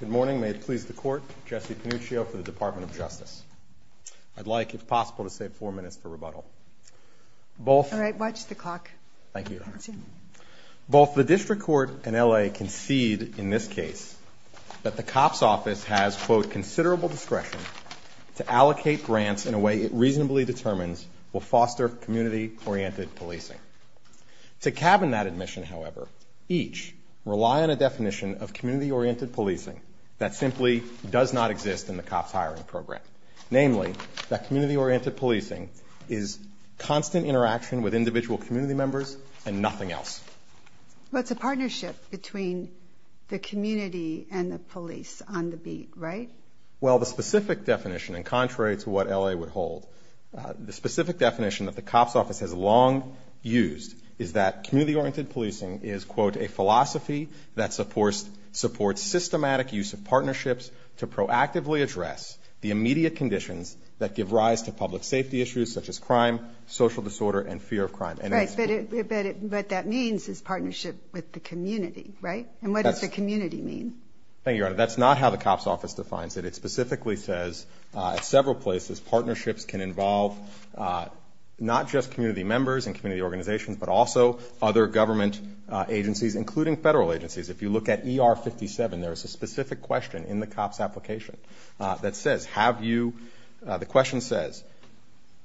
Good morning, may it please the court. Jesse Panuccio for the Department of Justice. I'd like, if possible, to save four minutes for rebuttal. All right, watch the clock. Thank you. Both the District Court and L.A. concede in this case that the COPS Office has, quote, considerable discretion to allocate grants in a way it reasonably determines will foster community-oriented policing. To cabin that admission, however, each rely on a definition of community-oriented policing that simply does not exist in the COPS hiring program. Namely, that community-oriented policing is constant interaction with individual community members and nothing else. But it's a partnership between the community and the police on the beat, right? Well, the specific definition, and contrary to what L.A. would hold, the specific definition that the COPS Office has long used is that community-oriented policing is, quote, a philosophy that supports systematic use of partnerships to proactively address the immediate conditions that give rise to public safety issues such as crime, social disorder and fear of crime. Right, but what that means is partnership with the community, right? And what does the community mean? Thank you, Your Honor. That's not how the COPS Office defines it. It specifically says at several places partnerships can involve not just community members and community organizations, but also other government agencies, including federal agencies. If you look at ER 57, there is a specific question in the COPS application that says, have you, the question says,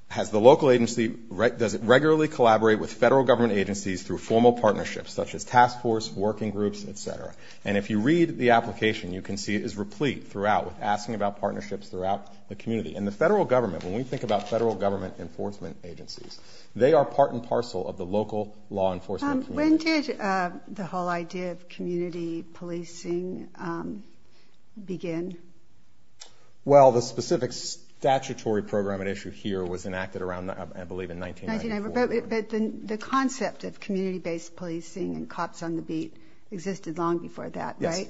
has the local agency, does it regularly collaborate with federal government agencies through formal partnerships such as task force, working groups, et cetera? And if you read the application, you can see it is replete throughout with asking about partnerships throughout the community. And the federal government, when we think about federal government enforcement agencies, they are part and parcel of the local law enforcement community. When did the whole idea of community policing begin? Well, the specific statutory program at issue here was enacted around, I believe, in 1994. But the concept of community-based policing and COPS on the beat existed long before that, right? Yes.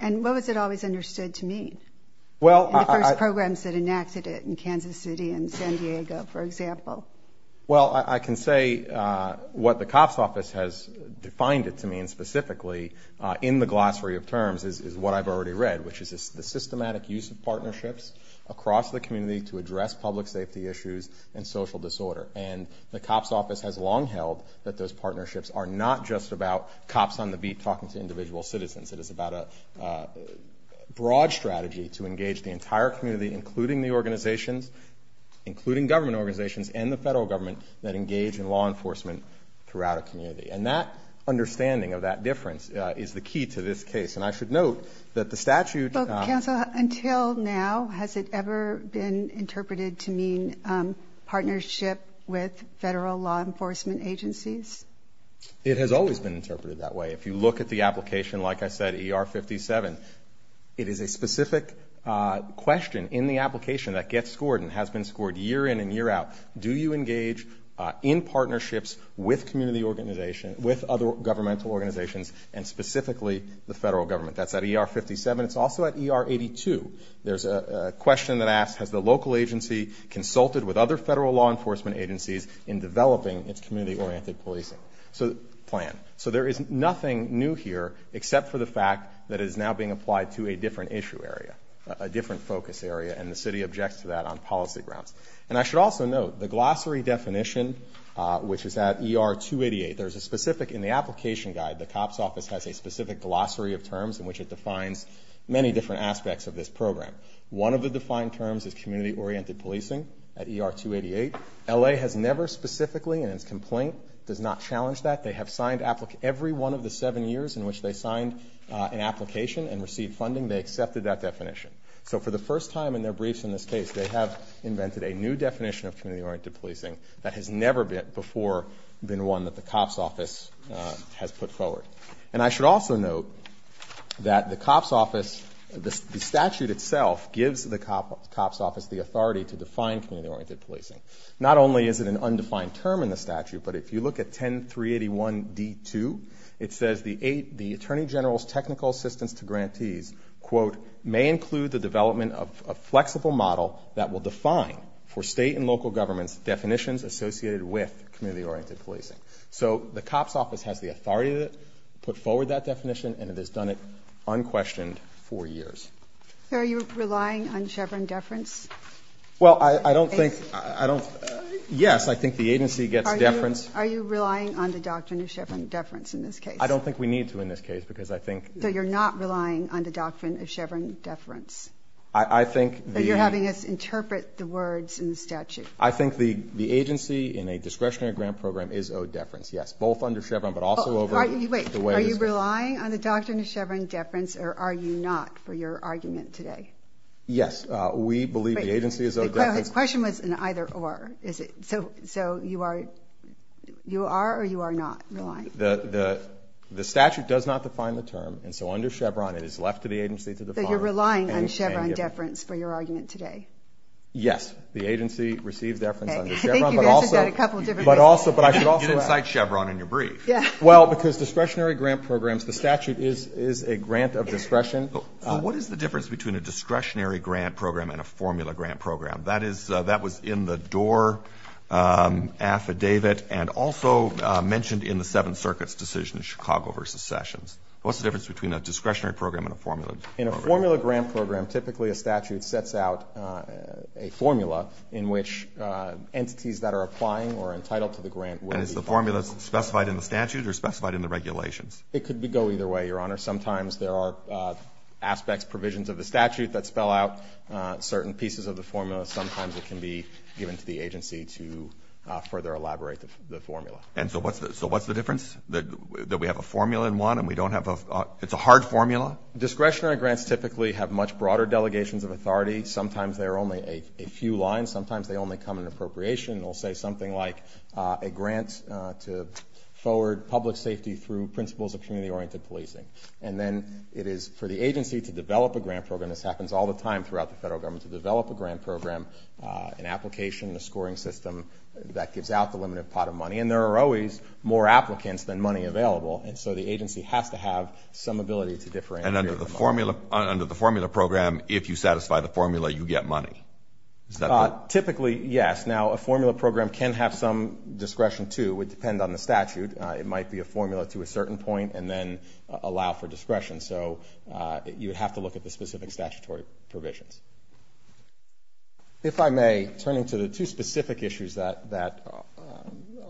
And what was it always understood to mean? Well, I... In the first programs that enacted it in Kansas City and San Diego, for example. Well, I can say what the COPS office has defined it to mean specifically in the glossary of terms is what I've already read, which is the systematic use of partnerships across the community to address public safety issues and social disorder. And the COPS office has long held that those partnerships are not just about COPS on the beat talking to individual citizens. It is about a broad strategy to engage the entire community, including the organizations, including government organizations and the federal government that engage in law enforcement throughout a community. And that understanding of that difference is the key to this case. And I should note that the statute... Well, counsel, until now, has it ever been interpreted to mean partnership with federal law enforcement agencies? It has always been interpreted that way. If you look at the application, like I said, ER-57, it is a in the application that gets scored and has been scored year in and year out. Do you engage in partnerships with community organizations, with other governmental organizations, and specifically the federal government? That's at ER-57. It's also at ER-82. There's a question that asks, has the local agency consulted with other federal law enforcement agencies in developing its community-oriented policing plan? So there is nothing new here except for the fact that it is now being applied to a different issue area, a different focus area, and the city objects to that on policy grounds. And I should also note, the glossary definition, which is at ER-288, there's a specific, in the application guide, the COPS office has a specific glossary of terms in which it defines many different aspects of this program. One of the defined terms is community-oriented policing at ER-288. LA has never specifically, in its complaint, does not challenge that. They have signed every one of the seven years in which they signed an application and received funding, they accepted that definition. So for the first time in their briefs in this case, they have invented a new definition of community-oriented policing that has never before been one that the COPS office has put forward. And I should also note that the COPS office, the statute itself gives the COPS office the authority to define community-oriented policing. Not only is it an undefined term in the statute, but if you look at 10-381-D2, it says the Attorney General's technical assistance to grantees may include the development of a flexible model that will define for state and local governments definitions associated with community-oriented policing. So the COPS office has the authority to put forward that definition and it has done it unquestioned for years. Are you relying on Chevron deference? Yes, I think the agency gets deference. Are you relying on the doctrine of Chevron deference in this case? I don't think we need to in this case. So you're not relying on the doctrine of Chevron deference? You're having us interpret the words in the statute. I think the agency in a discretionary grant program is owed deference. Are you relying on the doctrine of Chevron deference or are you not for your argument today? Yes, we believe the agency is owed deference. So his question was an either-or. So you are or you are not relying? The statute does not define the term, and so under Chevron it is left to the agency to define it. So you're relying on Chevron deference for your argument today? Yes, the agency receives deference under Chevron. You didn't cite Chevron in your brief. Well, because discretionary grant programs, the statute is a grant of discretion. So what is the difference between a discretionary grant program and a formula grant program? That was in the Doar affidavit and also mentioned in the Seventh Circuit's decision in Chicago v. Sessions. What's the difference between a discretionary program and a formula grant program? In a formula grant program, typically a statute sets out a formula in which entities that are applying or entitled to the grant will be found. And is the formula specified in the statute or specified in the regulations? It could go either way, Your Honor. Sometimes there are aspects, provisions of the statute that spell out certain pieces of the formula. Sometimes it can be given to the agency to further elaborate the formula. And so what's the difference, that we have a formula in one and we don't have a – it's a hard formula? Discretionary grants typically have much broader delegations of authority. Sometimes there are only a few lines. Sometimes they only come in appropriation. They'll say something like a grant to forward public safety through principles of community-oriented policing. And then it is for the agency to develop a grant program. This happens all the time throughout the federal government, to develop a grant program, an application, a scoring system that gives out the limited pot of money. And there are always more applicants than money available, and so the agency has to have some ability to differ in the amount. And under the formula program, if you satisfy the formula, you get money? Typically, yes. Now, a formula program can have some discretion, too. It would depend on the statute. It might be a formula to a certain point and then allow for discretion. So you would have to look at the specific statutory provisions. If I may, turning to the two specific issues that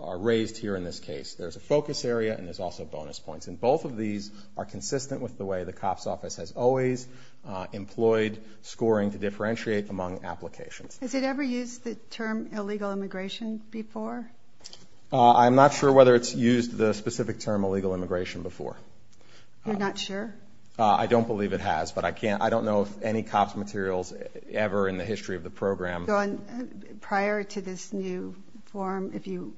are raised here in this case, there's a focus area and there's also bonus points. And both of these are consistent with the way the COPS Office has always employed scoring to differentiate among applications. Has it ever used the term illegal immigration before? I'm not sure whether it's used the specific term illegal immigration before. You're not sure? I don't believe it has, but I don't know of any COPS materials ever in the history of the program. So prior to this new form, if you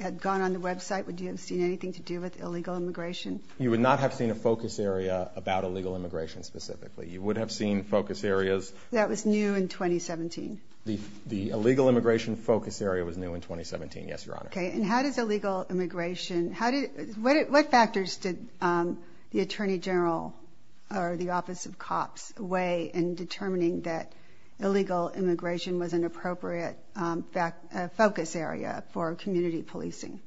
had gone on the website, would you have seen anything to do with illegal immigration? You would not have seen a focus area about illegal immigration specifically. You would have seen focus areas. That was new in 2017? The illegal immigration focus area was new in 2017, yes, Your Honor. Okay. And how does illegal immigration – what factors did the Attorney General or the Office of COPS weigh in determining that illegal immigration was an appropriate focus area for community policing?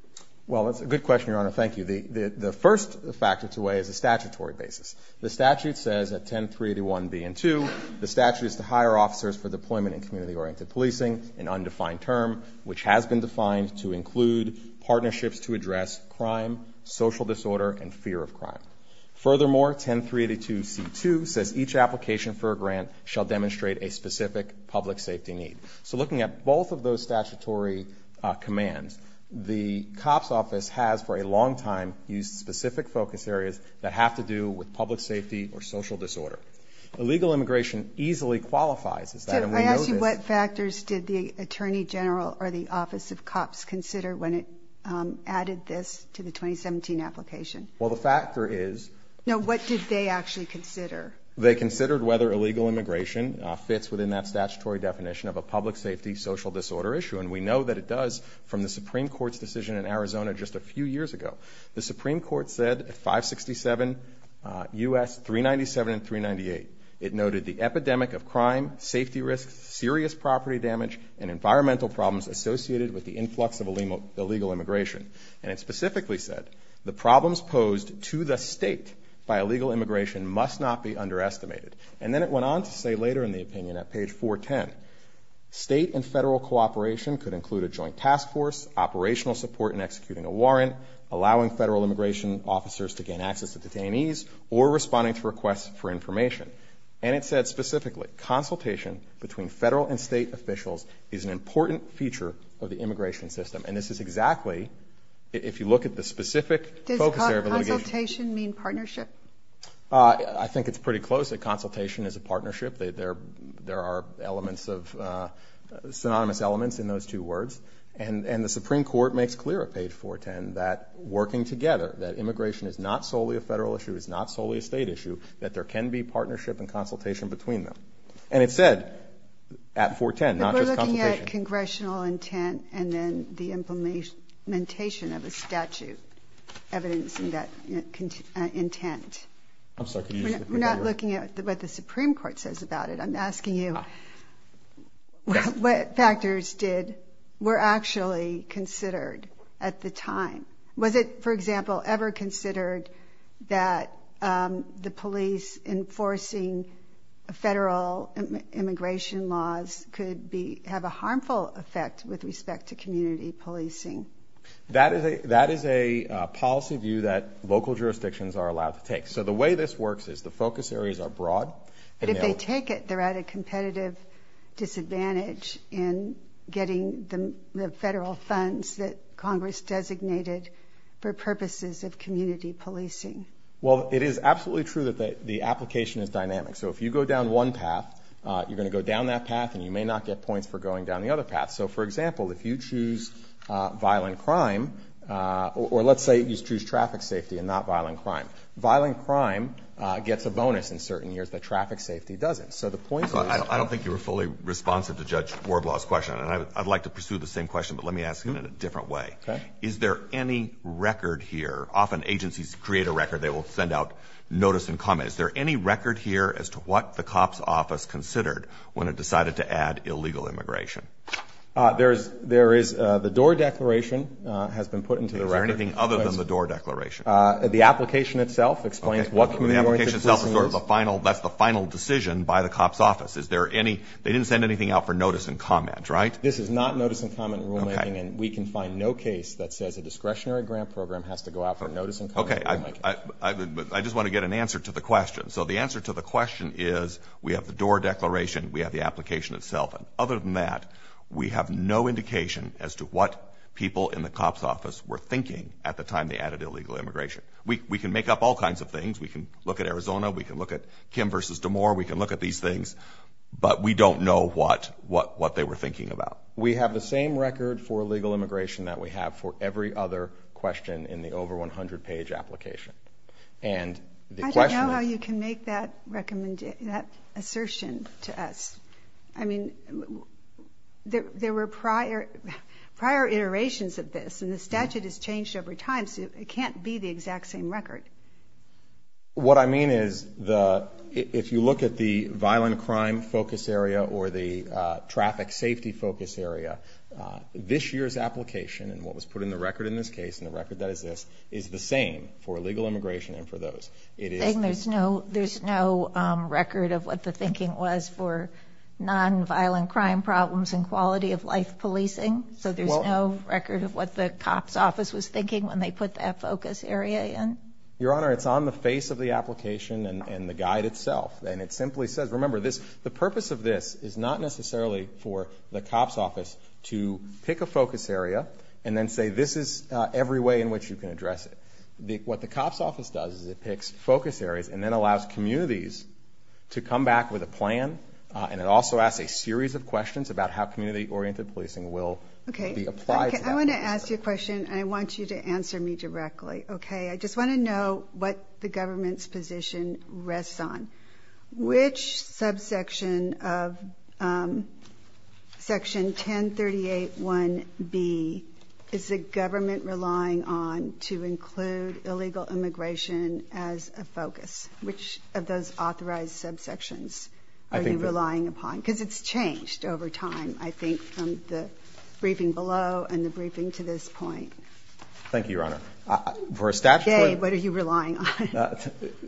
Well, that's a good question, Your Honor. Thank you. The first factor to weigh is the statutory basis. The statute says at 10381b and 2, the statute is to hire officers for deployment in community-oriented policing, an undefined term which has been defined to include partnerships to address crime, social disorder, and fear of crime. Furthermore, 10382c2 says each application for a grant shall demonstrate a specific public safety need. So looking at both of those statutory commands, the COPS office has for a long time used specific focus areas that have to do with public safety or social disorder. Illegal immigration easily qualifies as that, and we know this. So I ask you what factors did the Attorney General or the Office of COPS consider when it added this to the 2017 application? Well, the factor is – No, what did they actually consider? They considered whether illegal immigration fits within that statutory definition of a public safety, social disorder issue, and we know that it does from the Supreme Court's decision in Arizona just a few years ago. The Supreme Court said at 567 U.S. 397 and 398, it noted the epidemic of crime, safety risks, serious property damage, and environmental problems associated with the influx of illegal immigration. And it specifically said, the problems posed to the state by illegal immigration must not be underestimated. And then it went on to say later in the opinion at page 410, state and federal cooperation could include a joint task force, operational support in executing a warrant, allowing federal immigration officers to gain access to detainees, or responding to requests for information. And it said specifically, consultation between federal and state officials is an important feature of the immigration system. And this is exactly, if you look at the specific focus area of litigation. Does consultation mean partnership? I think it's pretty close that consultation is a partnership. There are elements of – synonymous elements in those two words. And the Supreme Court makes clear at page 410 that working together, that immigration is not solely a federal issue, it's not solely a state issue, that there can be partnership and consultation between them. And it said at 410, not just consultation. But we're looking at congressional intent and then the implementation of a statute evidencing that intent. I'm sorry, could you repeat that? We're not looking at what the Supreme Court says about it. I'm asking you, what factors did – were actually considered at the time? Was it, for example, ever considered that the police enforcing federal immigration laws could be – have a harmful effect with respect to community policing? That is a policy view that local jurisdictions are allowed to take. So the way this works is the focus areas are broad. But if they take it, they're at a competitive disadvantage in getting the federal funds that Congress designated for purposes of community policing. Well, it is absolutely true that the application is dynamic. So if you go down one path, you're going to go down that path and you may not get points for going down the other path. So, for example, if you choose violent crime, or let's say you choose traffic safety and not violent crime, violent crime gets a bonus in certain years, but traffic safety doesn't. So the point is – I don't think you were fully responsive to Judge Warblaw's question, and I'd like to pursue the same question, but let me ask it in a different way. Okay. Is there any record here – often agencies create a record. They will send out notice and comment. Is there any record here as to what the COPS Office considered when it decided to add illegal immigration? There is – the DOOR Declaration has been put into the record. Is there anything other than the DOOR Declaration? The application itself explains what community-oriented policing is. The application itself is sort of the final – that's the final decision by the COPS Office. Is there any – they didn't send anything out for notice and comment, right? This is not notice and comment rulemaking, and we can find no case that says a discretionary grant program has to go out for notice and comment rulemaking. Okay. I just want to get an answer to the question. So the answer to the question is we have the DOOR Declaration, we have the application itself. Other than that, we have no indication as to what people in the COPS Office were thinking at the time they added illegal immigration. We can make up all kinds of things. We can look at Arizona, we can look at Kim versus DeMoor, we can look at these things, but we don't know what they were thinking about. We have the same record for illegal immigration that we have for every other question in the over 100-page application. And the question – I don't know how you can make that assertion to us. I mean, there were prior iterations of this, and the statute has changed over time, so it can't be the exact same record. What I mean is if you look at the violent crime focus area or the traffic safety focus area, this year's application and what was put in the record in this case and the record that is this is the same for illegal immigration and for those. There's no record of what the thinking was for nonviolent crime problems and quality of life policing? So there's no record of what the COPS office was thinking when they put that focus area in? Your Honor, it's on the face of the application and the guide itself, and it simply says – remember, the purpose of this is not necessarily for the COPS office to pick a focus area and then say this is every way in which you can address it. What the COPS office does is it picks focus areas and then allows communities to come back with a plan, and it also asks a series of questions about how community-oriented policing will be applied to that. I want to ask you a question, and I want you to answer me directly. I just want to know what the government's position rests on. Which subsection of Section 1038.1b is the government relying on to include illegal immigration as a focus? Which of those authorized subsections are you relying upon? Because it's changed over time, I think, from the briefing below and the briefing to this point. Thank you, Your Honor. Jay, what are you relying on?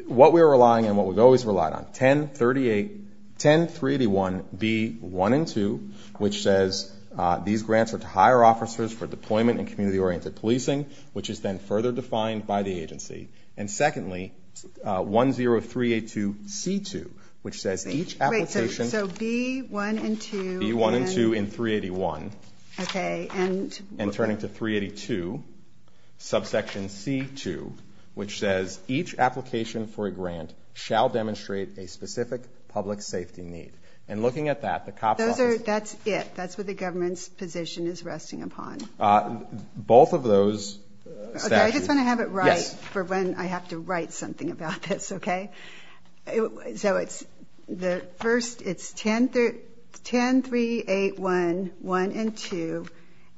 What we're relying on and what we've always relied on, 10381b1 and 2, which says these grants are to hire officers for deployment and community-oriented policing, which is then further defined by the agency. And secondly, 10382c2, which says each application – So b1 and 2 in – b1 and 2 in 381. Okay, and – And turning to 382, subsection c2, which says each application for a grant shall demonstrate a specific public safety need. And looking at that, the COPS Office – That's it. That's what the government's position is resting upon. Both of those statutes – Okay, I just want to have it right for when I have to write something about this, okay? So it's – the first – it's 10381, 1 and 2,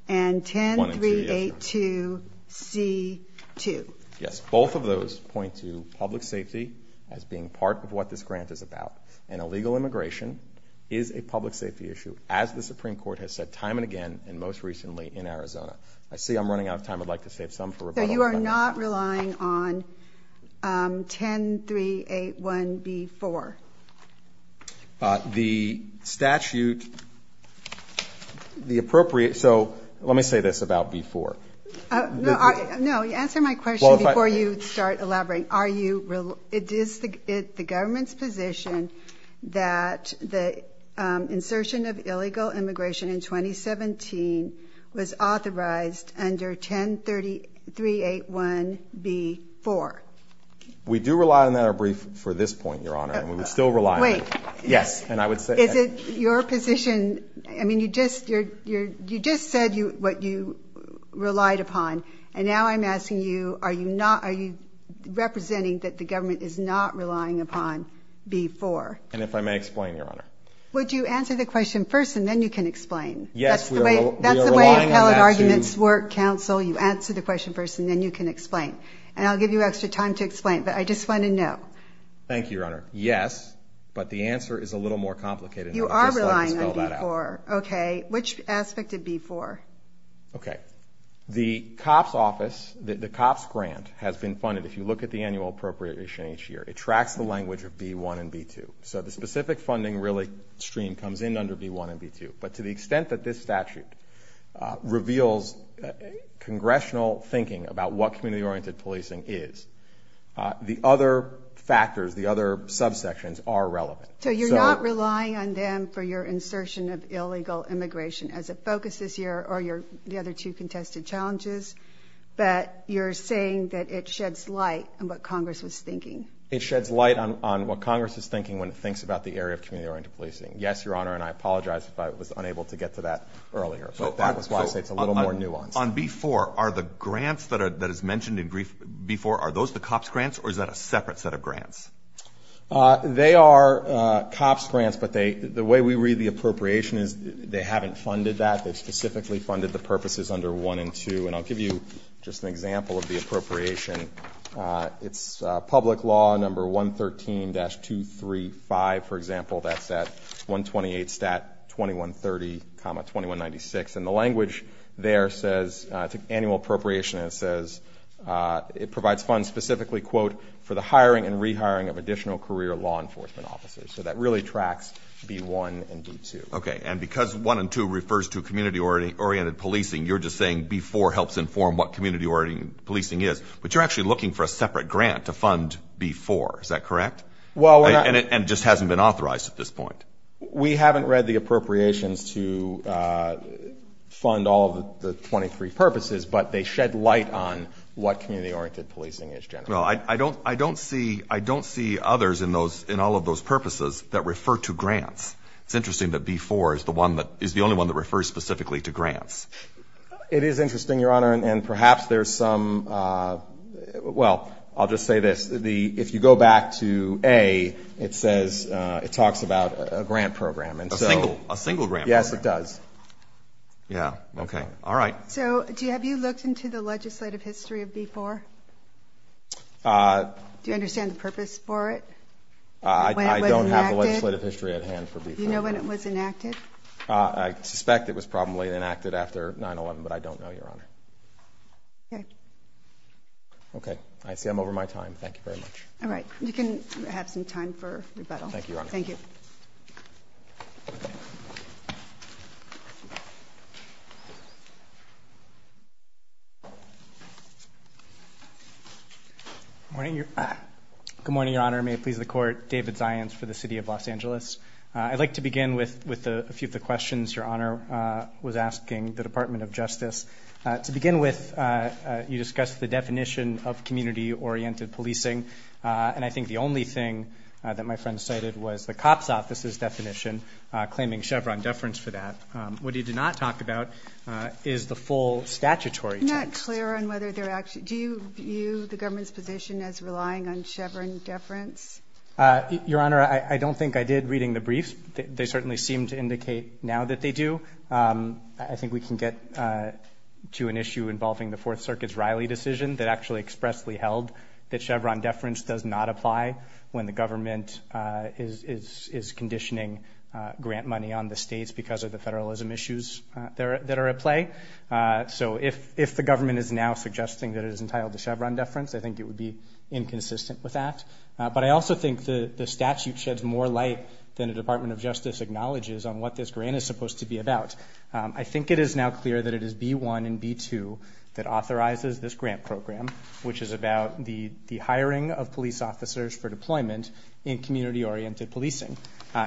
and 10382c2. Yes, both of those point to public safety as being part of what this grant is about. And illegal immigration is a public safety issue, as the Supreme Court has said time and again, and most recently in Arizona. I see I'm running out of time. I'd like to save some for rebuttal. You are not relying on 10381b4? The statute – the appropriate – so let me say this about b4. No, answer my question before you start elaborating. Are you – it is the government's position that the insertion of illegal immigration in 2017 was authorized under 10381b4? We do rely on that brief for this point, Your Honor, and we still rely on it. Wait. Yes, and I would say – Is it your position – I mean, you just – you just said what you relied upon, and now I'm asking you are you not – are you representing that the government is not relying upon b4? And if I may explain, Your Honor. Would you answer the question first and then you can explain? Yes. That's the way appellate arguments work, counsel. You answer the question first and then you can explain. And I'll give you extra time to explain, but I just want to know. Thank you, Your Honor. Yes, but the answer is a little more complicated. You are relying on b4. Okay. Which aspect of b4? Okay. The COPS office – the COPS grant has been funded. If you look at the annual appropriation each year, it tracks the language of b1 and b2. So the specific funding really stream comes in under b1 and b2. But to the extent that this statute reveals congressional thinking about what community-oriented policing is, the other factors, the other subsections are relevant. So you're not relying on them for your insertion of illegal immigration as a focus this year or the other two contested challenges, but you're saying that it sheds light on what Congress was thinking. It sheds light on what Congress is thinking when it thinks about the area of community-oriented policing. Yes, Your Honor, and I apologize if I was unable to get to that earlier. But Congress wants to say it's a little more nuanced. On b4, are the grants that is mentioned in b4, are those the COPS grants, or is that a separate set of grants? They are COPS grants, but the way we read the appropriation is they haven't funded that. They've specifically funded the purposes under 1 and 2. And I'll give you just an example of the appropriation. It's public law, number 113-235, for example. That's at 128 Stat 2130, 2196. And the language there says annual appropriation, and it says it provides funds specifically, quote, for the hiring and rehiring of additional career law enforcement officers. So that really tracks b1 and b2. Okay, and because 1 and 2 refers to community-oriented policing, you're just saying b4 helps inform what community-oriented policing is. But you're actually looking for a separate grant to fund b4, is that correct? And it just hasn't been authorized at this point. We haven't read the appropriations to fund all of the 23 purposes, but they shed light on what community-oriented policing is generally. I don't see others in all of those purposes that refer to grants. It's interesting that b4 is the only one that refers specifically to grants. It is interesting, Your Honor, and perhaps there's some, well, I'll just say this. If you go back to a, it says it talks about a grant program. A single grant program. Yes, it does. Yeah, okay, all right. So have you looked into the legislative history of b4? Do you understand the purpose for it? I don't have a legislative history at hand for b4. Do you know when it was enacted? I suspect it was probably enacted after 9-11, but I don't know, Your Honor. Okay. Okay. I see I'm over my time. Thank you very much. All right. You can have some time for rebuttal. Thank you, Your Honor. Thank you. Good morning, Your Honor. May it please the Court. David Zients for the City of Los Angeles. I'd like to begin with a few of the questions Your Honor was asking the Department of Justice. To begin with, you discussed the definition of community-oriented policing, and I think the only thing that my friend cited was the COPS Office's definition, claiming Chevron deference for that. What you did not talk about is the full statutory text. I'm not clear on whether they're actually, do you view the government's position as relying on Chevron deference? Your Honor, I don't think I did reading the briefs. They certainly seem to indicate now that they do. I think we can get to an issue involving the Fourth Circuit's Riley decision that actually expressly held that Chevron deference does not apply when the government is conditioning grant money on the states because of the federalism issues that are at play. So if the government is now suggesting that it is entitled to Chevron deference, I think it would be inconsistent with that. But I also think the statute sheds more light than the Department of Justice acknowledges on what this grant is supposed to be about. I think it is now clear that it is B-1 and B-2 that authorizes this grant program, which is about the hiring of police officers for deployment in community-oriented policing.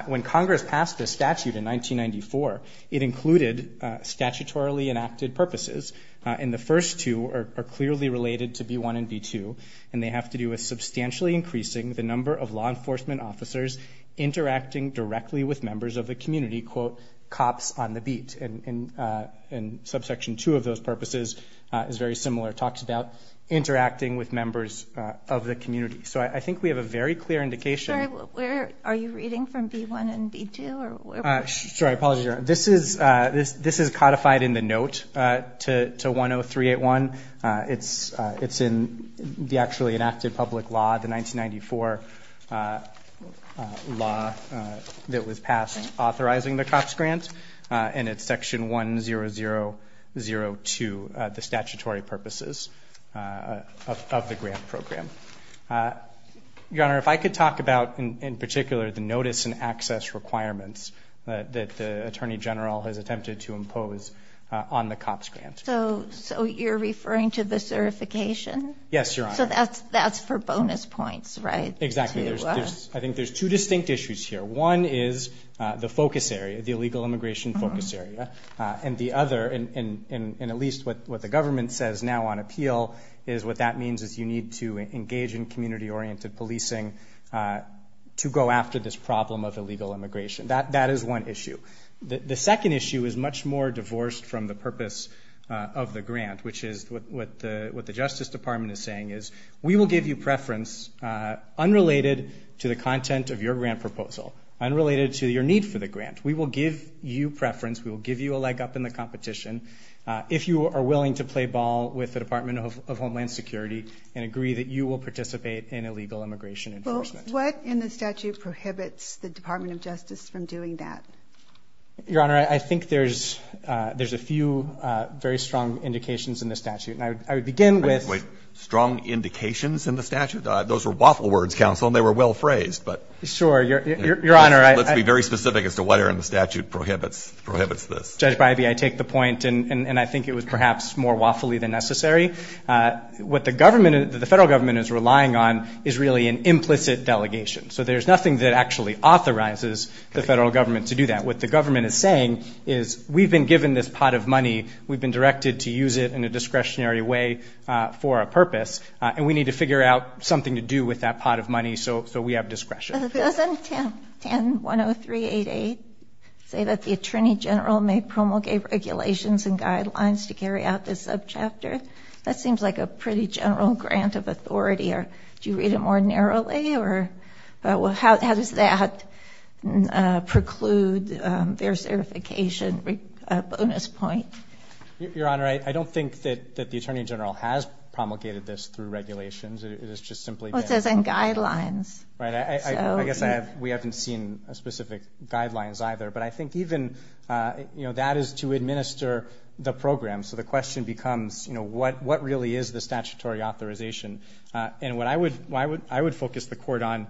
When Congress passed this statute in 1994, it included statutorily enacted purposes, and the first two are clearly related to B-1 and B-2, and they have to do with substantially increasing the number of law enforcement officers interacting directly with members of the community, quote, cops on the beat. And Subsection 2 of those purposes is very similar, talks about interacting with members of the community. So I think we have a very clear indication. Sorry, are you reading from B-1 and B-2? Sorry, apologies, Your Honor. This is codified in the note to 10381. It's in the actually enacted public law, the 1994 law that was passed authorizing the COPS grant, and it's Section 10002, the statutory purposes of the grant program. Your Honor, if I could talk about in particular the notice and access requirements that the Attorney General has attempted to impose on the COPS grant. So you're referring to the certification? Yes, Your Honor. So that's for bonus points, right? Exactly. I think there's two distinct issues here. One is the focus area, the illegal immigration focus area, and the other, and at least what the government says now on appeal, is what that means is you need to engage in community-oriented policing to go after this problem of illegal immigration. That is one issue. The second issue is much more divorced from the purpose of the grant, which is what the Justice Department is saying is we will give you preference unrelated to the content of your grant proposal, unrelated to your need for the grant. We will give you preference. We will give you a leg up in the competition. If you are willing to play ball with the Department of Homeland Security and agree that you will participate in illegal immigration enforcement. What in the statute prohibits the Department of Justice from doing that? Your Honor, I think there's a few very strong indications in the statute, and I would begin with — Wait. Strong indications in the statute? Those were waffle words, counsel, and they were well phrased, but — Sure. Your Honor, I — Let's be very specific as to whether in the statute prohibits this. Judge Bybee, I take the point, and I think it was perhaps more waffley than necessary. What the government, the federal government is relying on is really an implicit delegation. So there's nothing that actually authorizes the federal government to do that. What the government is saying is we've been given this pot of money. We've been directed to use it in a discretionary way for a purpose, and we need to figure out something to do with that pot of money so we have discretion. Doesn't 1010388 say that the attorney general may promulgate regulations and guidelines to carry out this subchapter? That seems like a pretty general grant of authority. Do you read it more narrowly, or how does that preclude their certification? Bonus point. Your Honor, I don't think that the attorney general has promulgated this through regulations. It has just simply been — Well, it says on guidelines. Right. I guess we haven't seen specific guidelines either. But I think even, you know, that is to administer the program. So the question becomes, you know, what really is the statutory authorization? And what I would focus the court on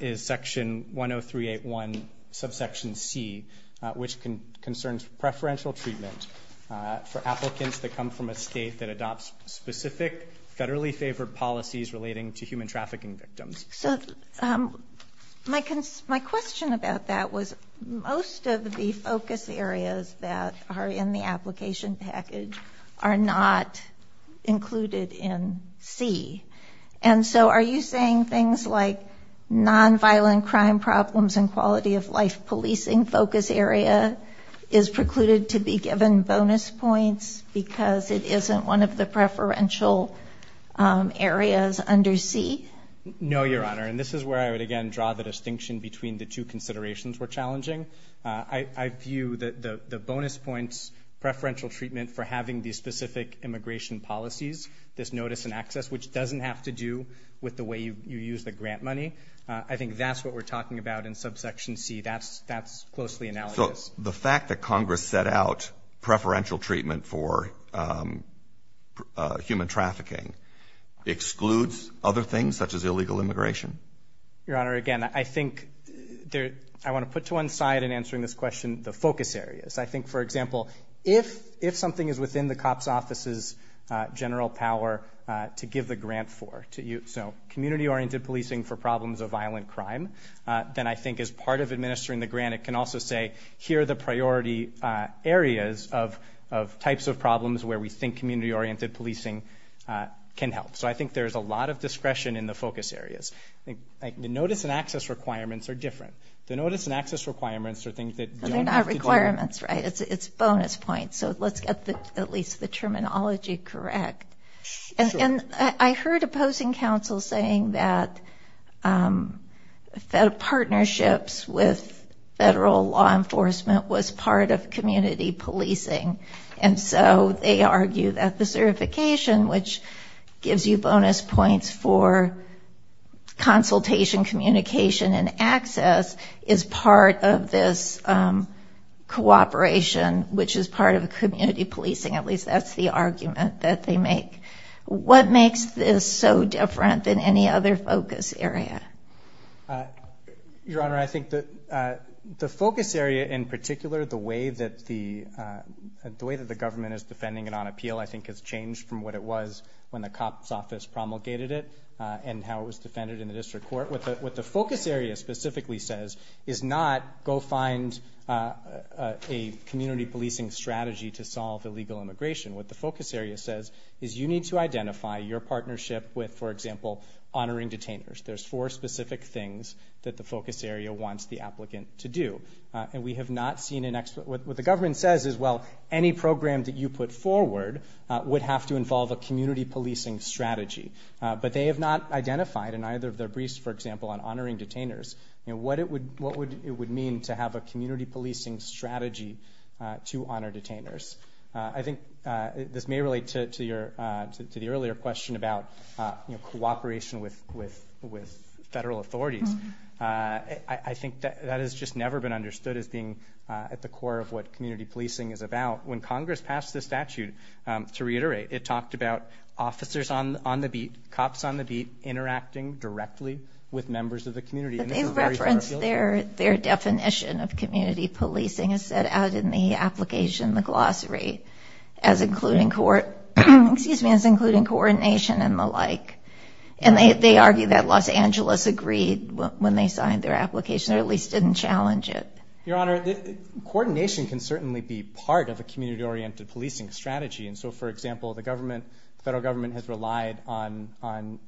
is Section 10381, subsection C, which concerns preferential treatment for applicants that come from a state that adopts specific federally favored policies relating to human trafficking victims. So my question about that was, most of the focus areas that are in the application package are not included in C. And so are you saying things like nonviolent crime problems and quality of life policing focus area is precluded to be given bonus points because it isn't one of the preferential areas under C? No, Your Honor. And this is where I would, again, draw the distinction between the two considerations were challenging. I view the bonus points preferential treatment for having these specific immigration policies, this notice and access, which doesn't have to do with the way you use the grant money. I think that's what we're talking about in subsection C. That's closely analogous. So the fact that Congress set out preferential treatment for human trafficking excludes other things such as illegal immigration? Your Honor, again, I think I want to put to one side in answering this question the focus areas. I think, for example, if something is within the COPS Office's general power to give the grant for, so community-oriented policing for problems of violent crime, then I think as part of administering the grant it can also say, here are the priority areas of types of problems where we think community-oriented policing can help. So I think there's a lot of discretion in the focus areas. I think the notice and access requirements are different. The notice and access requirements are things that don't have to do with? They're not requirements, right? It's bonus points. So let's get at least the terminology correct. And I heard opposing counsel saying that partnerships with federal law enforcement was part of community policing. And so they argue that the certification, which gives you bonus points for consultation, communication, and access, is part of this cooperation, which is part of community policing. At least that's the argument that they make. What makes this so different than any other focus area? Your Honor, I think the focus area in particular, the way that the government is defending it on appeal, I think has changed from what it was when the COPS Office promulgated it and how it was defended in the district court. What the focus area specifically says is not, go find a community policing strategy to solve illegal immigration. What the focus area says is you need to identify your partnership with, for example, honoring detainers. There's four specific things that the focus area wants the applicant to do. And we have not seen an expert. What the government says is, well, any program that you put forward would have to involve a community policing strategy. But they have not identified in either of their briefs, for example, on honoring detainers, what it would mean to have a community policing strategy to honor detainers. I think this may relate to the earlier question about cooperation with federal authorities. I think that has just never been understood as being at the core of what community policing is about. When Congress passed this statute, to reiterate, it talked about officers on the beat, cops on the beat, interacting directly with members of the community. But they referenced their definition of community policing as set out in the application, the glossary, as including coordination and the like. And they argue that Los Angeles agreed when they signed their application or at least didn't challenge it. Your Honor, coordination can certainly be part of a community-oriented policing strategy. For example, the federal government has relied on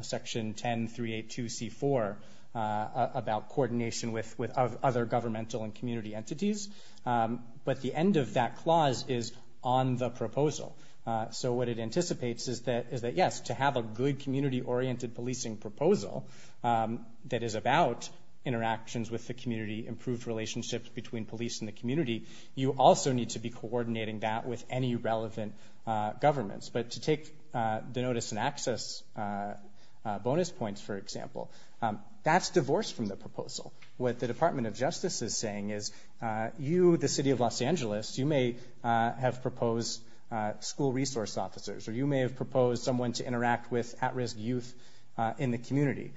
Section 10382C4 about coordination with other governmental and community entities. But the end of that clause is on the proposal. So what it anticipates is that, yes, to have a good community-oriented policing proposal that is about interactions with the community, improved relationships between police and the community, you also need to be coordinating that with any relevant governments. But to take the notice and access bonus points, for example, that's divorced from the proposal. What the Department of Justice is saying is you, the city of Los Angeles, you may have proposed school resource officers or you may have proposed someone to interact with at-risk youth in the community.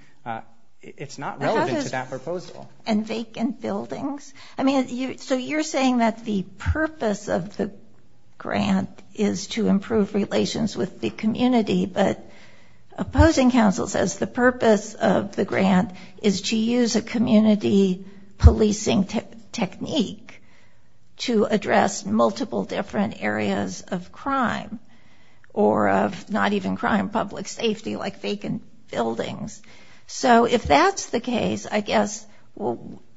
It's not relevant to that proposal. And vacant buildings. I mean, so you're saying that the purpose of the grant is to improve relations with the community, but opposing counsel says the purpose of the grant is to use a community policing technique to address multiple different areas of crime or of not even crime, public safety, like vacant buildings. So if that's the case, I guess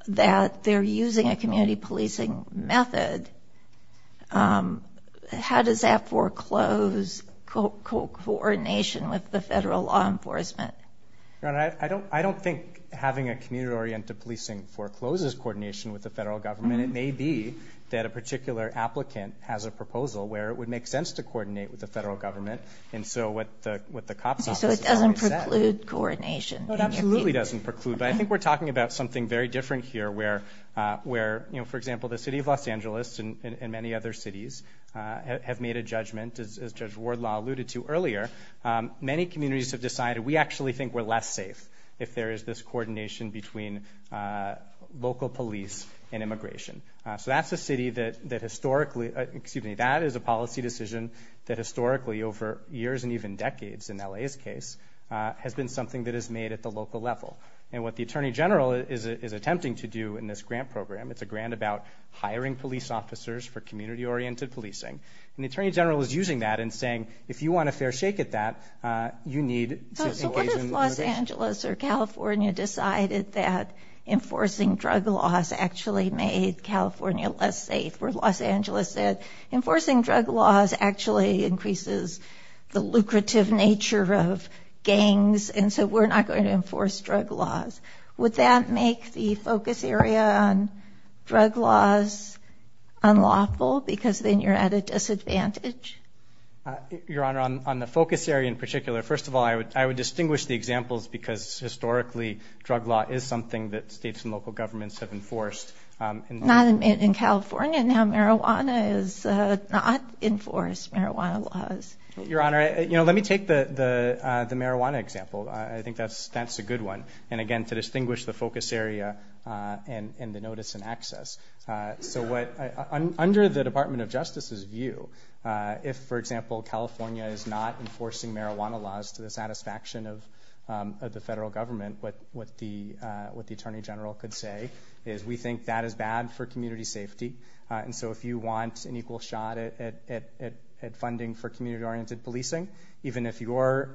that they're using a community policing method, how does that foreclose coordination with the federal law enforcement? I don't think having a community-oriented policing forecloses coordination with the federal government. It may be that a particular applicant has a proposal where it would make sense to coordinate with the federal government. So it doesn't preclude coordination. No, it absolutely doesn't preclude, but I think we're talking about something very different here where, for example, the city of Los Angeles and many other cities have made a judgment, as Judge Wardlaw alluded to earlier, many communities have decided we actually think we're less safe if there is this coordination between local police and immigration. So that's a city that historically, excuse me, that is a policy decision that historically, over years and even decades in L.A.'s case, has been something that is made at the local level. And what the Attorney General is attempting to do in this grant program, it's a grant about hiring police officers for community-oriented policing, and the Attorney General is using that and saying, if you want a fair shake at that, you need to engage in immigration. So what if Los Angeles or California decided that enforcing drug laws actually made California less safe? Or if Los Angeles said, enforcing drug laws actually increases the lucrative nature of gangs, and so we're not going to enforce drug laws. Would that make the focus area on drug laws unlawful? Because then you're at a disadvantage. Your Honor, on the focus area in particular, first of all, I would distinguish the examples because historically drug law is something that states and local governments have enforced. Not in California. Now marijuana is not enforced, marijuana laws. Your Honor, let me take the marijuana example. I think that's a good one. And again, to distinguish the focus area and the notice and access. So under the Department of Justice's view, if, for example, California is not enforcing marijuana laws to the satisfaction of the federal government, what the Attorney General could say is, we think that is bad for community safety. And so if you want an equal shot at funding for community-oriented policing, even if your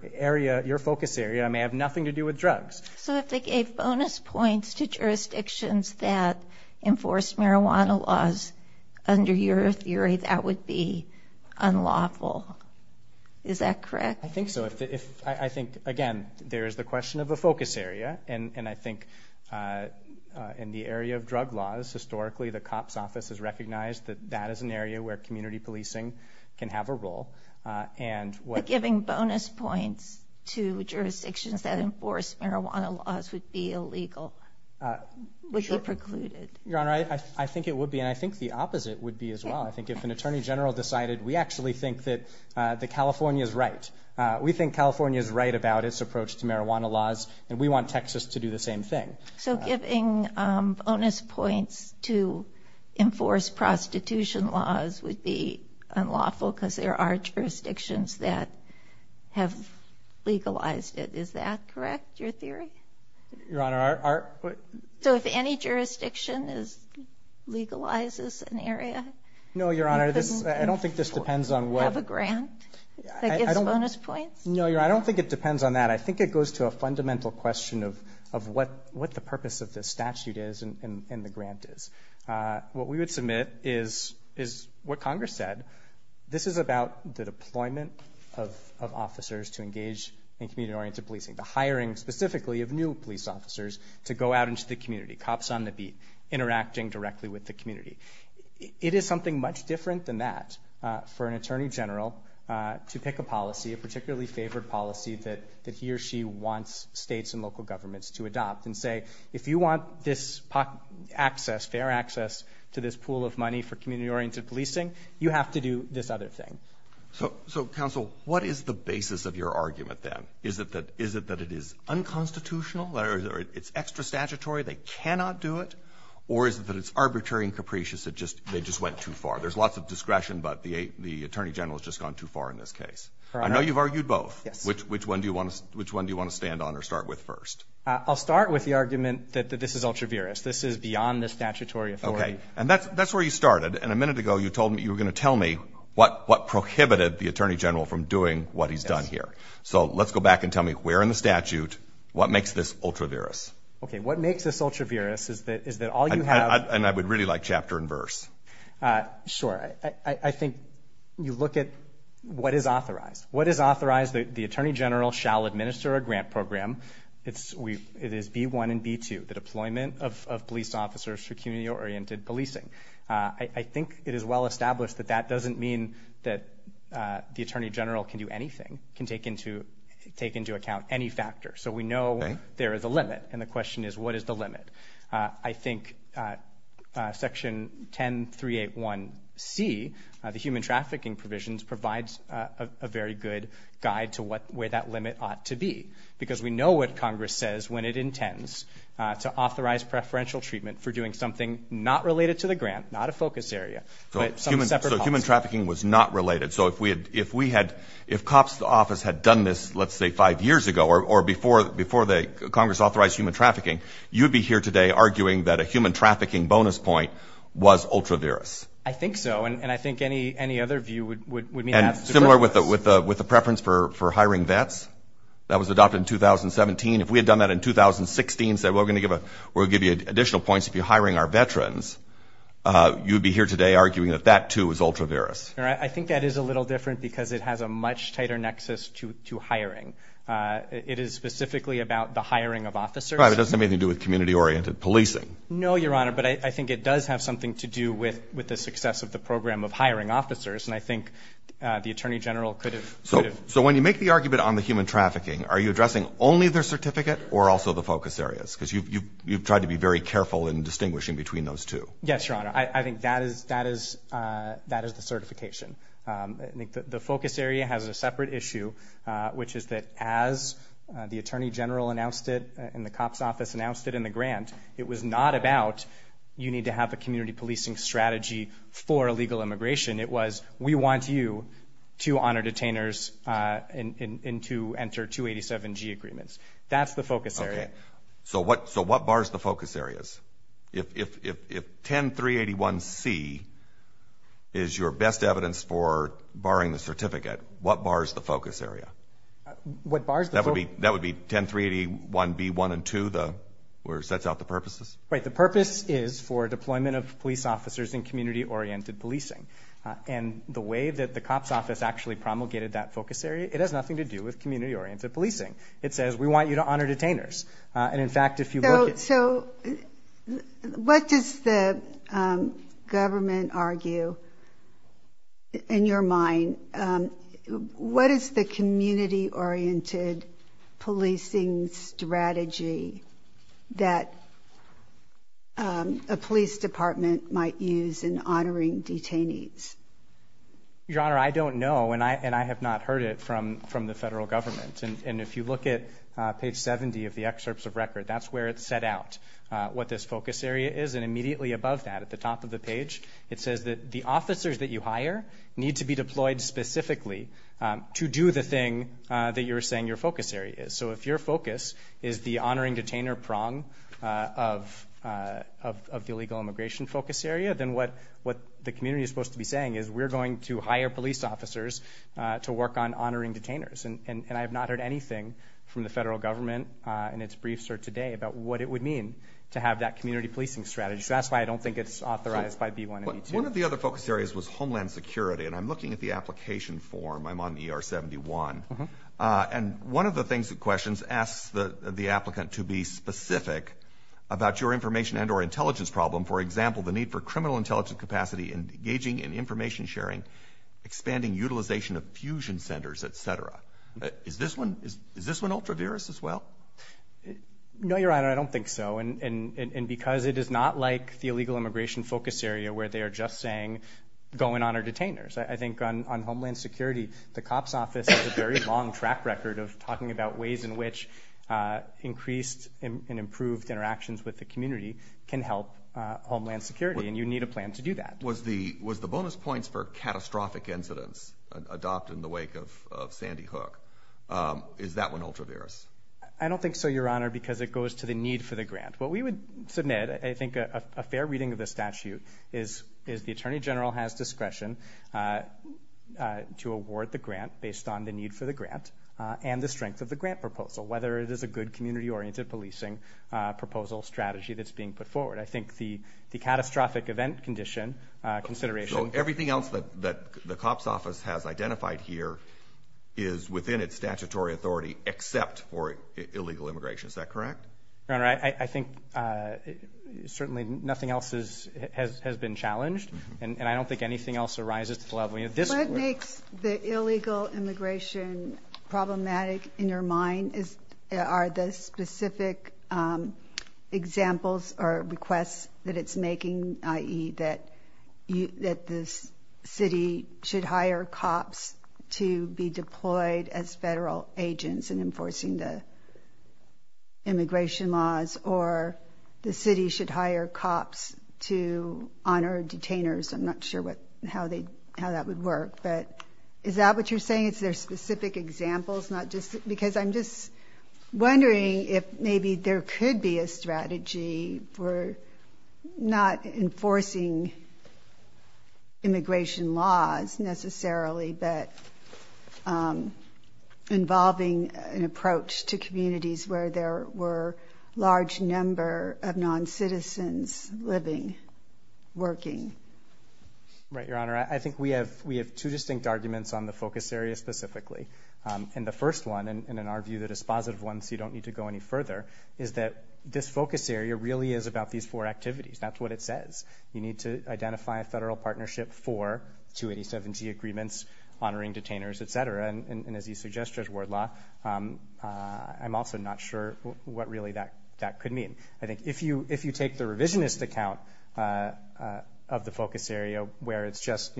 focus area may have nothing to do with drugs. So if they gave bonus points to jurisdictions that enforce marijuana laws, under your theory that would be unlawful. Is that correct? I think so. I think, again, there is the question of a focus area. And I think in the area of drug laws, historically the COPS Office has recognized that that is an area where community policing can have a role. But giving bonus points to jurisdictions that enforce marijuana laws would be illegal. Would be precluded. Your Honor, I think it would be. And I think the opposite would be as well. I think if an Attorney General decided, we actually think that California is right. We think California is right about its approach to marijuana laws. And we want Texas to do the same thing. So giving bonus points to enforce prostitution laws would be unlawful because there are jurisdictions that have legalized it. Is that correct, your theory? Your Honor, our. So if any jurisdiction legalizes an area. No, Your Honor, I don't think this depends on what. The grant that gives bonus points? No, Your Honor, I don't think it depends on that. I think it goes to a fundamental question of what the purpose of this statute is and the grant is. What we would submit is what Congress said. This is about the deployment of officers to engage in community-oriented policing, the hiring specifically of new police officers to go out into the community, cops on the beat, interacting directly with the community. It is something much different than that for an Attorney General to pick a policy, a particularly favored policy that he or she wants states and local governments to adopt and say, if you want this access, fair access to this pool of money for community-oriented policing, you have to do this other thing. So, Counsel, what is the basis of your argument then? Is it that it is unconstitutional or it's extra statutory, they cannot do it? Or is it that it's arbitrary and capricious, they just went too far? There's lots of discretion, but the Attorney General has just gone too far in this case. I know you've argued both. Yes. Which one do you want to stand on or start with first? I'll start with the argument that this is ultra-virus. This is beyond the statutory authority. Okay. And that's where you started, and a minute ago you told me you were going to tell me what prohibited the Attorney General from doing what he's done here. Yes. So let's go back and tell me where in the statute, what makes this ultra-virus? Okay. What makes this ultra-virus is that all you have... And I would really like chapter and verse. Sure. I think you look at what is authorized. What is authorized? The Attorney General shall administer a grant program. It is B1 and B2, the deployment of police officers for community-oriented policing. I think it is well established that that doesn't mean that the Attorney General can do anything, can take into account any factor. So we know there is a limit, and the question is what is the limit? I think Section 10381C, the human trafficking provisions, provides a very good guide to where that limit ought to be because we know what Congress says when it intends to authorize preferential treatment for doing something not related to the grant, not a focus area. So human trafficking was not related. So if we had, if cops in the office had done this, let's say, five years ago or before Congress authorized human trafficking, you would be here today arguing that a human trafficking bonus point was ultra-virus. I think so, and I think any other view would mean that. And similar with the preference for hiring vets. That was adopted in 2017. If we had done that in 2016 and said, well, we're going to give you additional points if you're hiring our veterans, you would be here today arguing that that, too, is ultra-virus. I think that is a little different because it has a much tighter nexus to hiring. It is specifically about the hiring of officers. It doesn't have anything to do with community-oriented policing. No, Your Honor, but I think it does have something to do with the success of the program of hiring officers, and I think the Attorney General could have. So when you make the argument on the human trafficking, are you addressing only their certificate or also the focus areas? Because you've tried to be very careful in distinguishing between those two. Yes, Your Honor. I think that is the certification. The focus area has a separate issue, which is that as the Attorney General announced it and the COPS Office announced it in the grant, it was not about you need to have a community policing strategy for illegal immigration. It was we want you to honor detainers and to enter 287G agreements. That's the focus area. Okay. So what bars the focus areas? If 10381C is your best evidence for barring the certificate, what bars the focus area? That would be 10381B1 and 2 where it sets out the purposes? Right. The purpose is for deployment of police officers in community-oriented policing. And the way that the COPS Office actually promulgated that focus area, it has nothing to do with community-oriented policing. It says we want you to honor detainers. So what does the government argue in your mind? What is the community-oriented policing strategy that a police department might use in honoring detainees? Your Honor, I don't know, and I have not heard it from the federal government. And if you look at page 70 of the excerpts of record, that's where it set out what this focus area is. And immediately above that, at the top of the page, it says that the officers that you hire need to be deployed specifically to do the thing that you were saying your focus area is. So if your focus is the honoring detainer prong of the illegal immigration focus area, then what the community is supposed to be saying is we're going to hire police officers to work on honoring detainers. And I have not heard anything from the federal government in its briefs or today about what it would mean to have that community policing strategy. So that's why I don't think it's authorized by B-182. One of the other focus areas was homeland security. And I'm looking at the application form. I'm on ER-71. And one of the questions asks the applicant to be specific about your information and or intelligence problem, for example, the need for criminal intelligence capacity and engaging in information sharing, expanding utilization of fusion centers, et cetera. Is this one ultra-virus as well? No, Your Honor, I don't think so. And because it is not like the illegal immigration focus area where they are just saying go and honor detainers. I think on homeland security, the COPS Office has a very long track record of talking about ways in which increased and improved interactions with the community can help homeland security. And you need a plan to do that. Was the bonus points for catastrophic incidents adopted in the wake of Sandy Hook? Is that one ultra-virus? I don't think so, Your Honor, because it goes to the need for the grant. What we would submit, I think a fair reading of the statute, is the Attorney General has discretion to award the grant based on the need for the grant and the strength of the grant proposal, whether it is a good community-oriented policing proposal strategy that's being put forward. I think the catastrophic event condition consideration. So everything else that the COPS Office has identified here is within its statutory authority except for illegal immigration. Is that correct? Your Honor, I think certainly nothing else has been challenged, and I don't think anything else arises to the level. What makes the illegal immigration problematic in your mind? Are the specific examples or requests that it's making, i.e., that the city should hire cops to be deployed as federal agents in enforcing the immigration laws or the city should hire cops to honor detainers? I'm not sure how that would work, but is that what you're saying? I think it's their specific examples, because I'm just wondering if maybe there could be a strategy for not enforcing immigration laws necessarily but involving an approach to communities where there were large number of noncitizens living, working. Right, Your Honor. I think we have two distinct arguments on the focus area specifically. And the first one, and in our view, the dispositive one, so you don't need to go any further, is that this focus area really is about these four activities. That's what it says. You need to identify a federal partnership for 287G agreements honoring detainers, et cetera. And as you suggest, Judge Wardlaw, I'm also not sure what really that could mean. I think if you take the revisionist account of the focus area, where it's just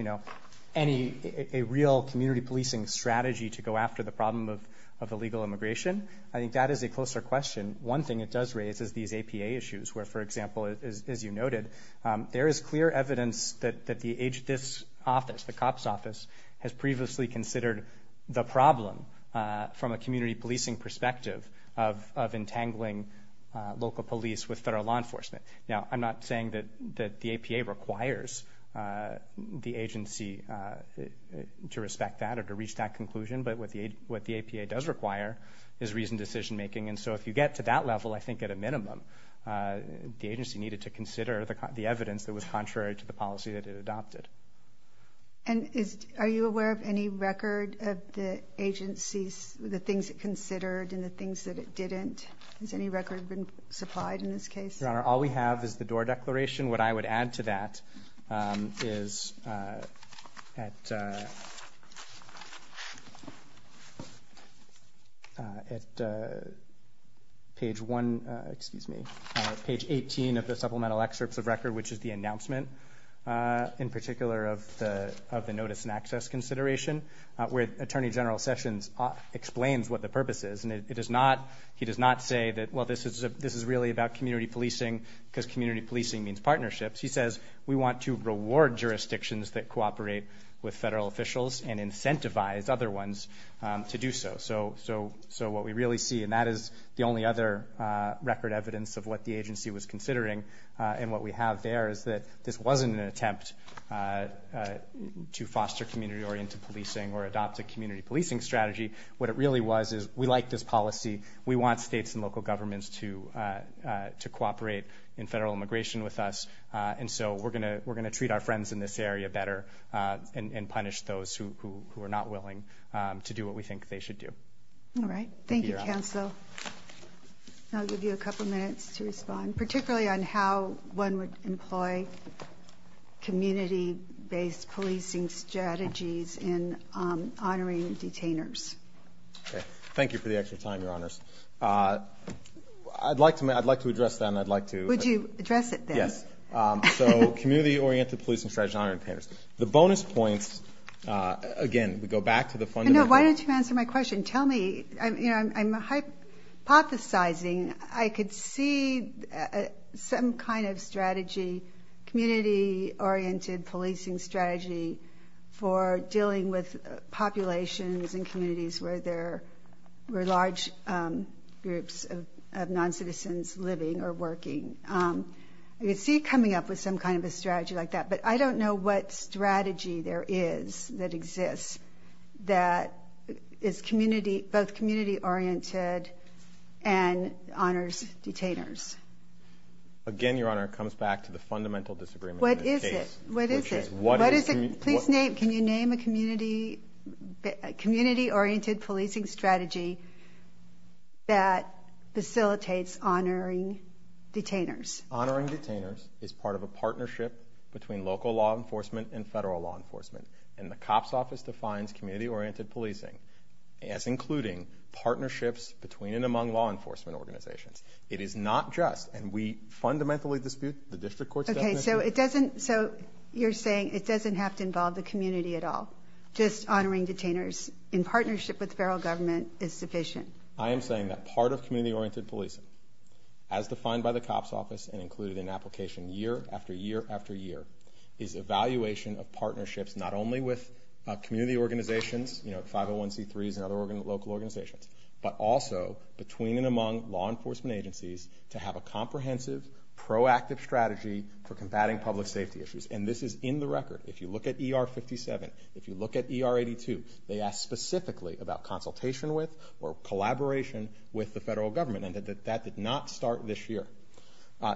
a real community policing strategy to go after the problem of illegal immigration, I think that is a closer question. One thing it does raise is these APA issues, where, for example, as you noted, there is clear evidence that this office, the COPS office, has previously considered the problem from a community policing perspective of entangling local police with federal law enforcement. Now, I'm not saying that the APA requires the agency to respect that or to reach that conclusion, but what the APA does require is reasoned decision making. And so if you get to that level, I think at a minimum, the agency needed to consider the evidence that was contrary to the policy that it adopted. And are you aware of any record of the agency, the things it considered and the things that it didn't? Has any record been supplied in this case? Your Honor, all we have is the DOOR Declaration. What I would add to that is at page 18 of the supplemental excerpts of record, which is the announcement in particular of the notice and access consideration, where Attorney General Sessions explains what the purpose is. And he does not say that, well, this is really about community policing because community policing means partnerships. He says we want to reward jurisdictions that cooperate with federal officials and incentivize other ones to do so. So what we really see, and that is the only other record evidence of what the agency was considering and what we have there, is that this wasn't an attempt to foster community-oriented policing or adopt a community policing strategy. What it really was is we like this policy. We want states and local governments to cooperate in federal immigration with us. And so we're going to treat our friends in this area better and punish those who are not willing to do what we think they should do. All right. Thank you, counsel. I'll give you a couple minutes to respond, particularly on how one would employ community-based policing strategies in honoring detainers. Okay. Thank you for the extra time, Your Honors. I'd like to address that, and I'd like to. Would you address it then? Yes. So community-oriented policing strategies in honoring detainers. The bonus points, again, we go back to the fundamental. No, why don't you answer my question. Tell me. I'm hypothesizing. I could see some kind of strategy, community-oriented policing strategy for dealing with populations and communities where there are large groups of noncitizens living or working. I could see coming up with some kind of a strategy like that, but I don't know what strategy there is that exists that is both community-oriented and honors detainers. Again, Your Honor, it comes back to the fundamental disagreement in this case. What is it? What is it? Please name. Can you name a community-oriented policing strategy that facilitates honoring detainers? Honoring detainers is part of a partnership between local law enforcement and federal law enforcement, and the COPS Office defines community-oriented policing as including partnerships between and among law enforcement organizations. It is not just, and we fundamentally dispute the district court's definition. Okay, so you're saying it doesn't have to involve the community at all, just honoring detainers in partnership with the federal government is sufficient. I am saying that part of community-oriented policing, as defined by the COPS Office and included in application year after year after year, is evaluation of partnerships not only with community organizations, 501c3s and other local organizations, but also between and among law enforcement agencies to have a comprehensive, proactive strategy for combating public safety issues. And this is in the record. If you look at ER 57, if you look at ER 82, they ask specifically about consultation with or collaboration with the federal government, and that did not start this year.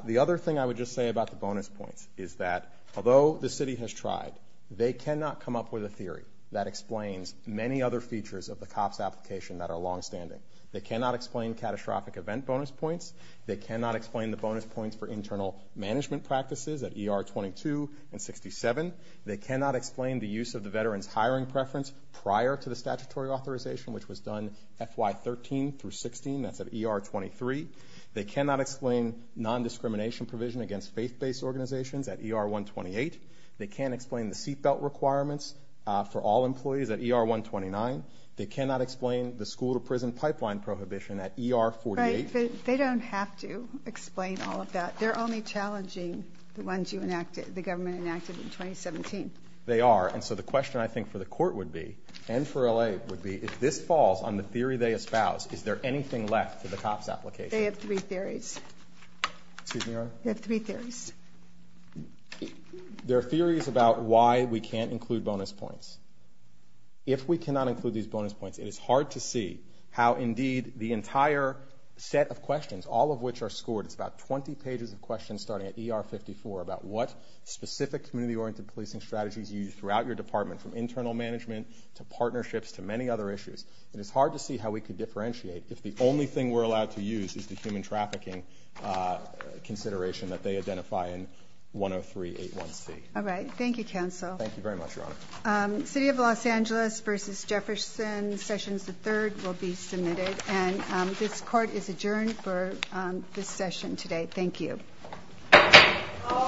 The other thing I would just say about the bonus points is that, although the city has tried, they cannot come up with a theory that explains many other features of the COPS application that are longstanding. They cannot explain catastrophic event bonus points. They cannot explain the bonus points for internal management practices at ER 22 and 67. They cannot explain the use of the veteran's hiring preference prior to the statutory authorization, which was done FY 13 through 16. That's at ER 23. They cannot explain non-discrimination provision against faith-based organizations at ER 128. They can't explain the seatbelt requirements for all employees at ER 129. They cannot explain the school-to-prison pipeline prohibition at ER 48. Right, but they don't have to explain all of that. They're only challenging the ones the government enacted in 2017. They are, and so the question I think for the court would be, and for LA, would be if this falls on the theory they espouse, is there anything left for the COPS application? They have three theories. Excuse me, Your Honor? They have three theories. There are theories about why we can't include bonus points. If we cannot include these bonus points, it is hard to see how, indeed, the entire set of questions, all of which are scored, it's about 20 pages of questions starting at ER 54, about what specific community-oriented policing strategies you use throughout your department, from internal management to partnerships to many other issues. And it's hard to see how we could differentiate if the only thing we're allowed to use is the human trafficking consideration that they identify in 103.81c. All right. Thank you, counsel. Thank you very much, Your Honor. City of Los Angeles v. Jefferson, Sessions III, will be submitted. And this court is adjourned for this session today. Thank you.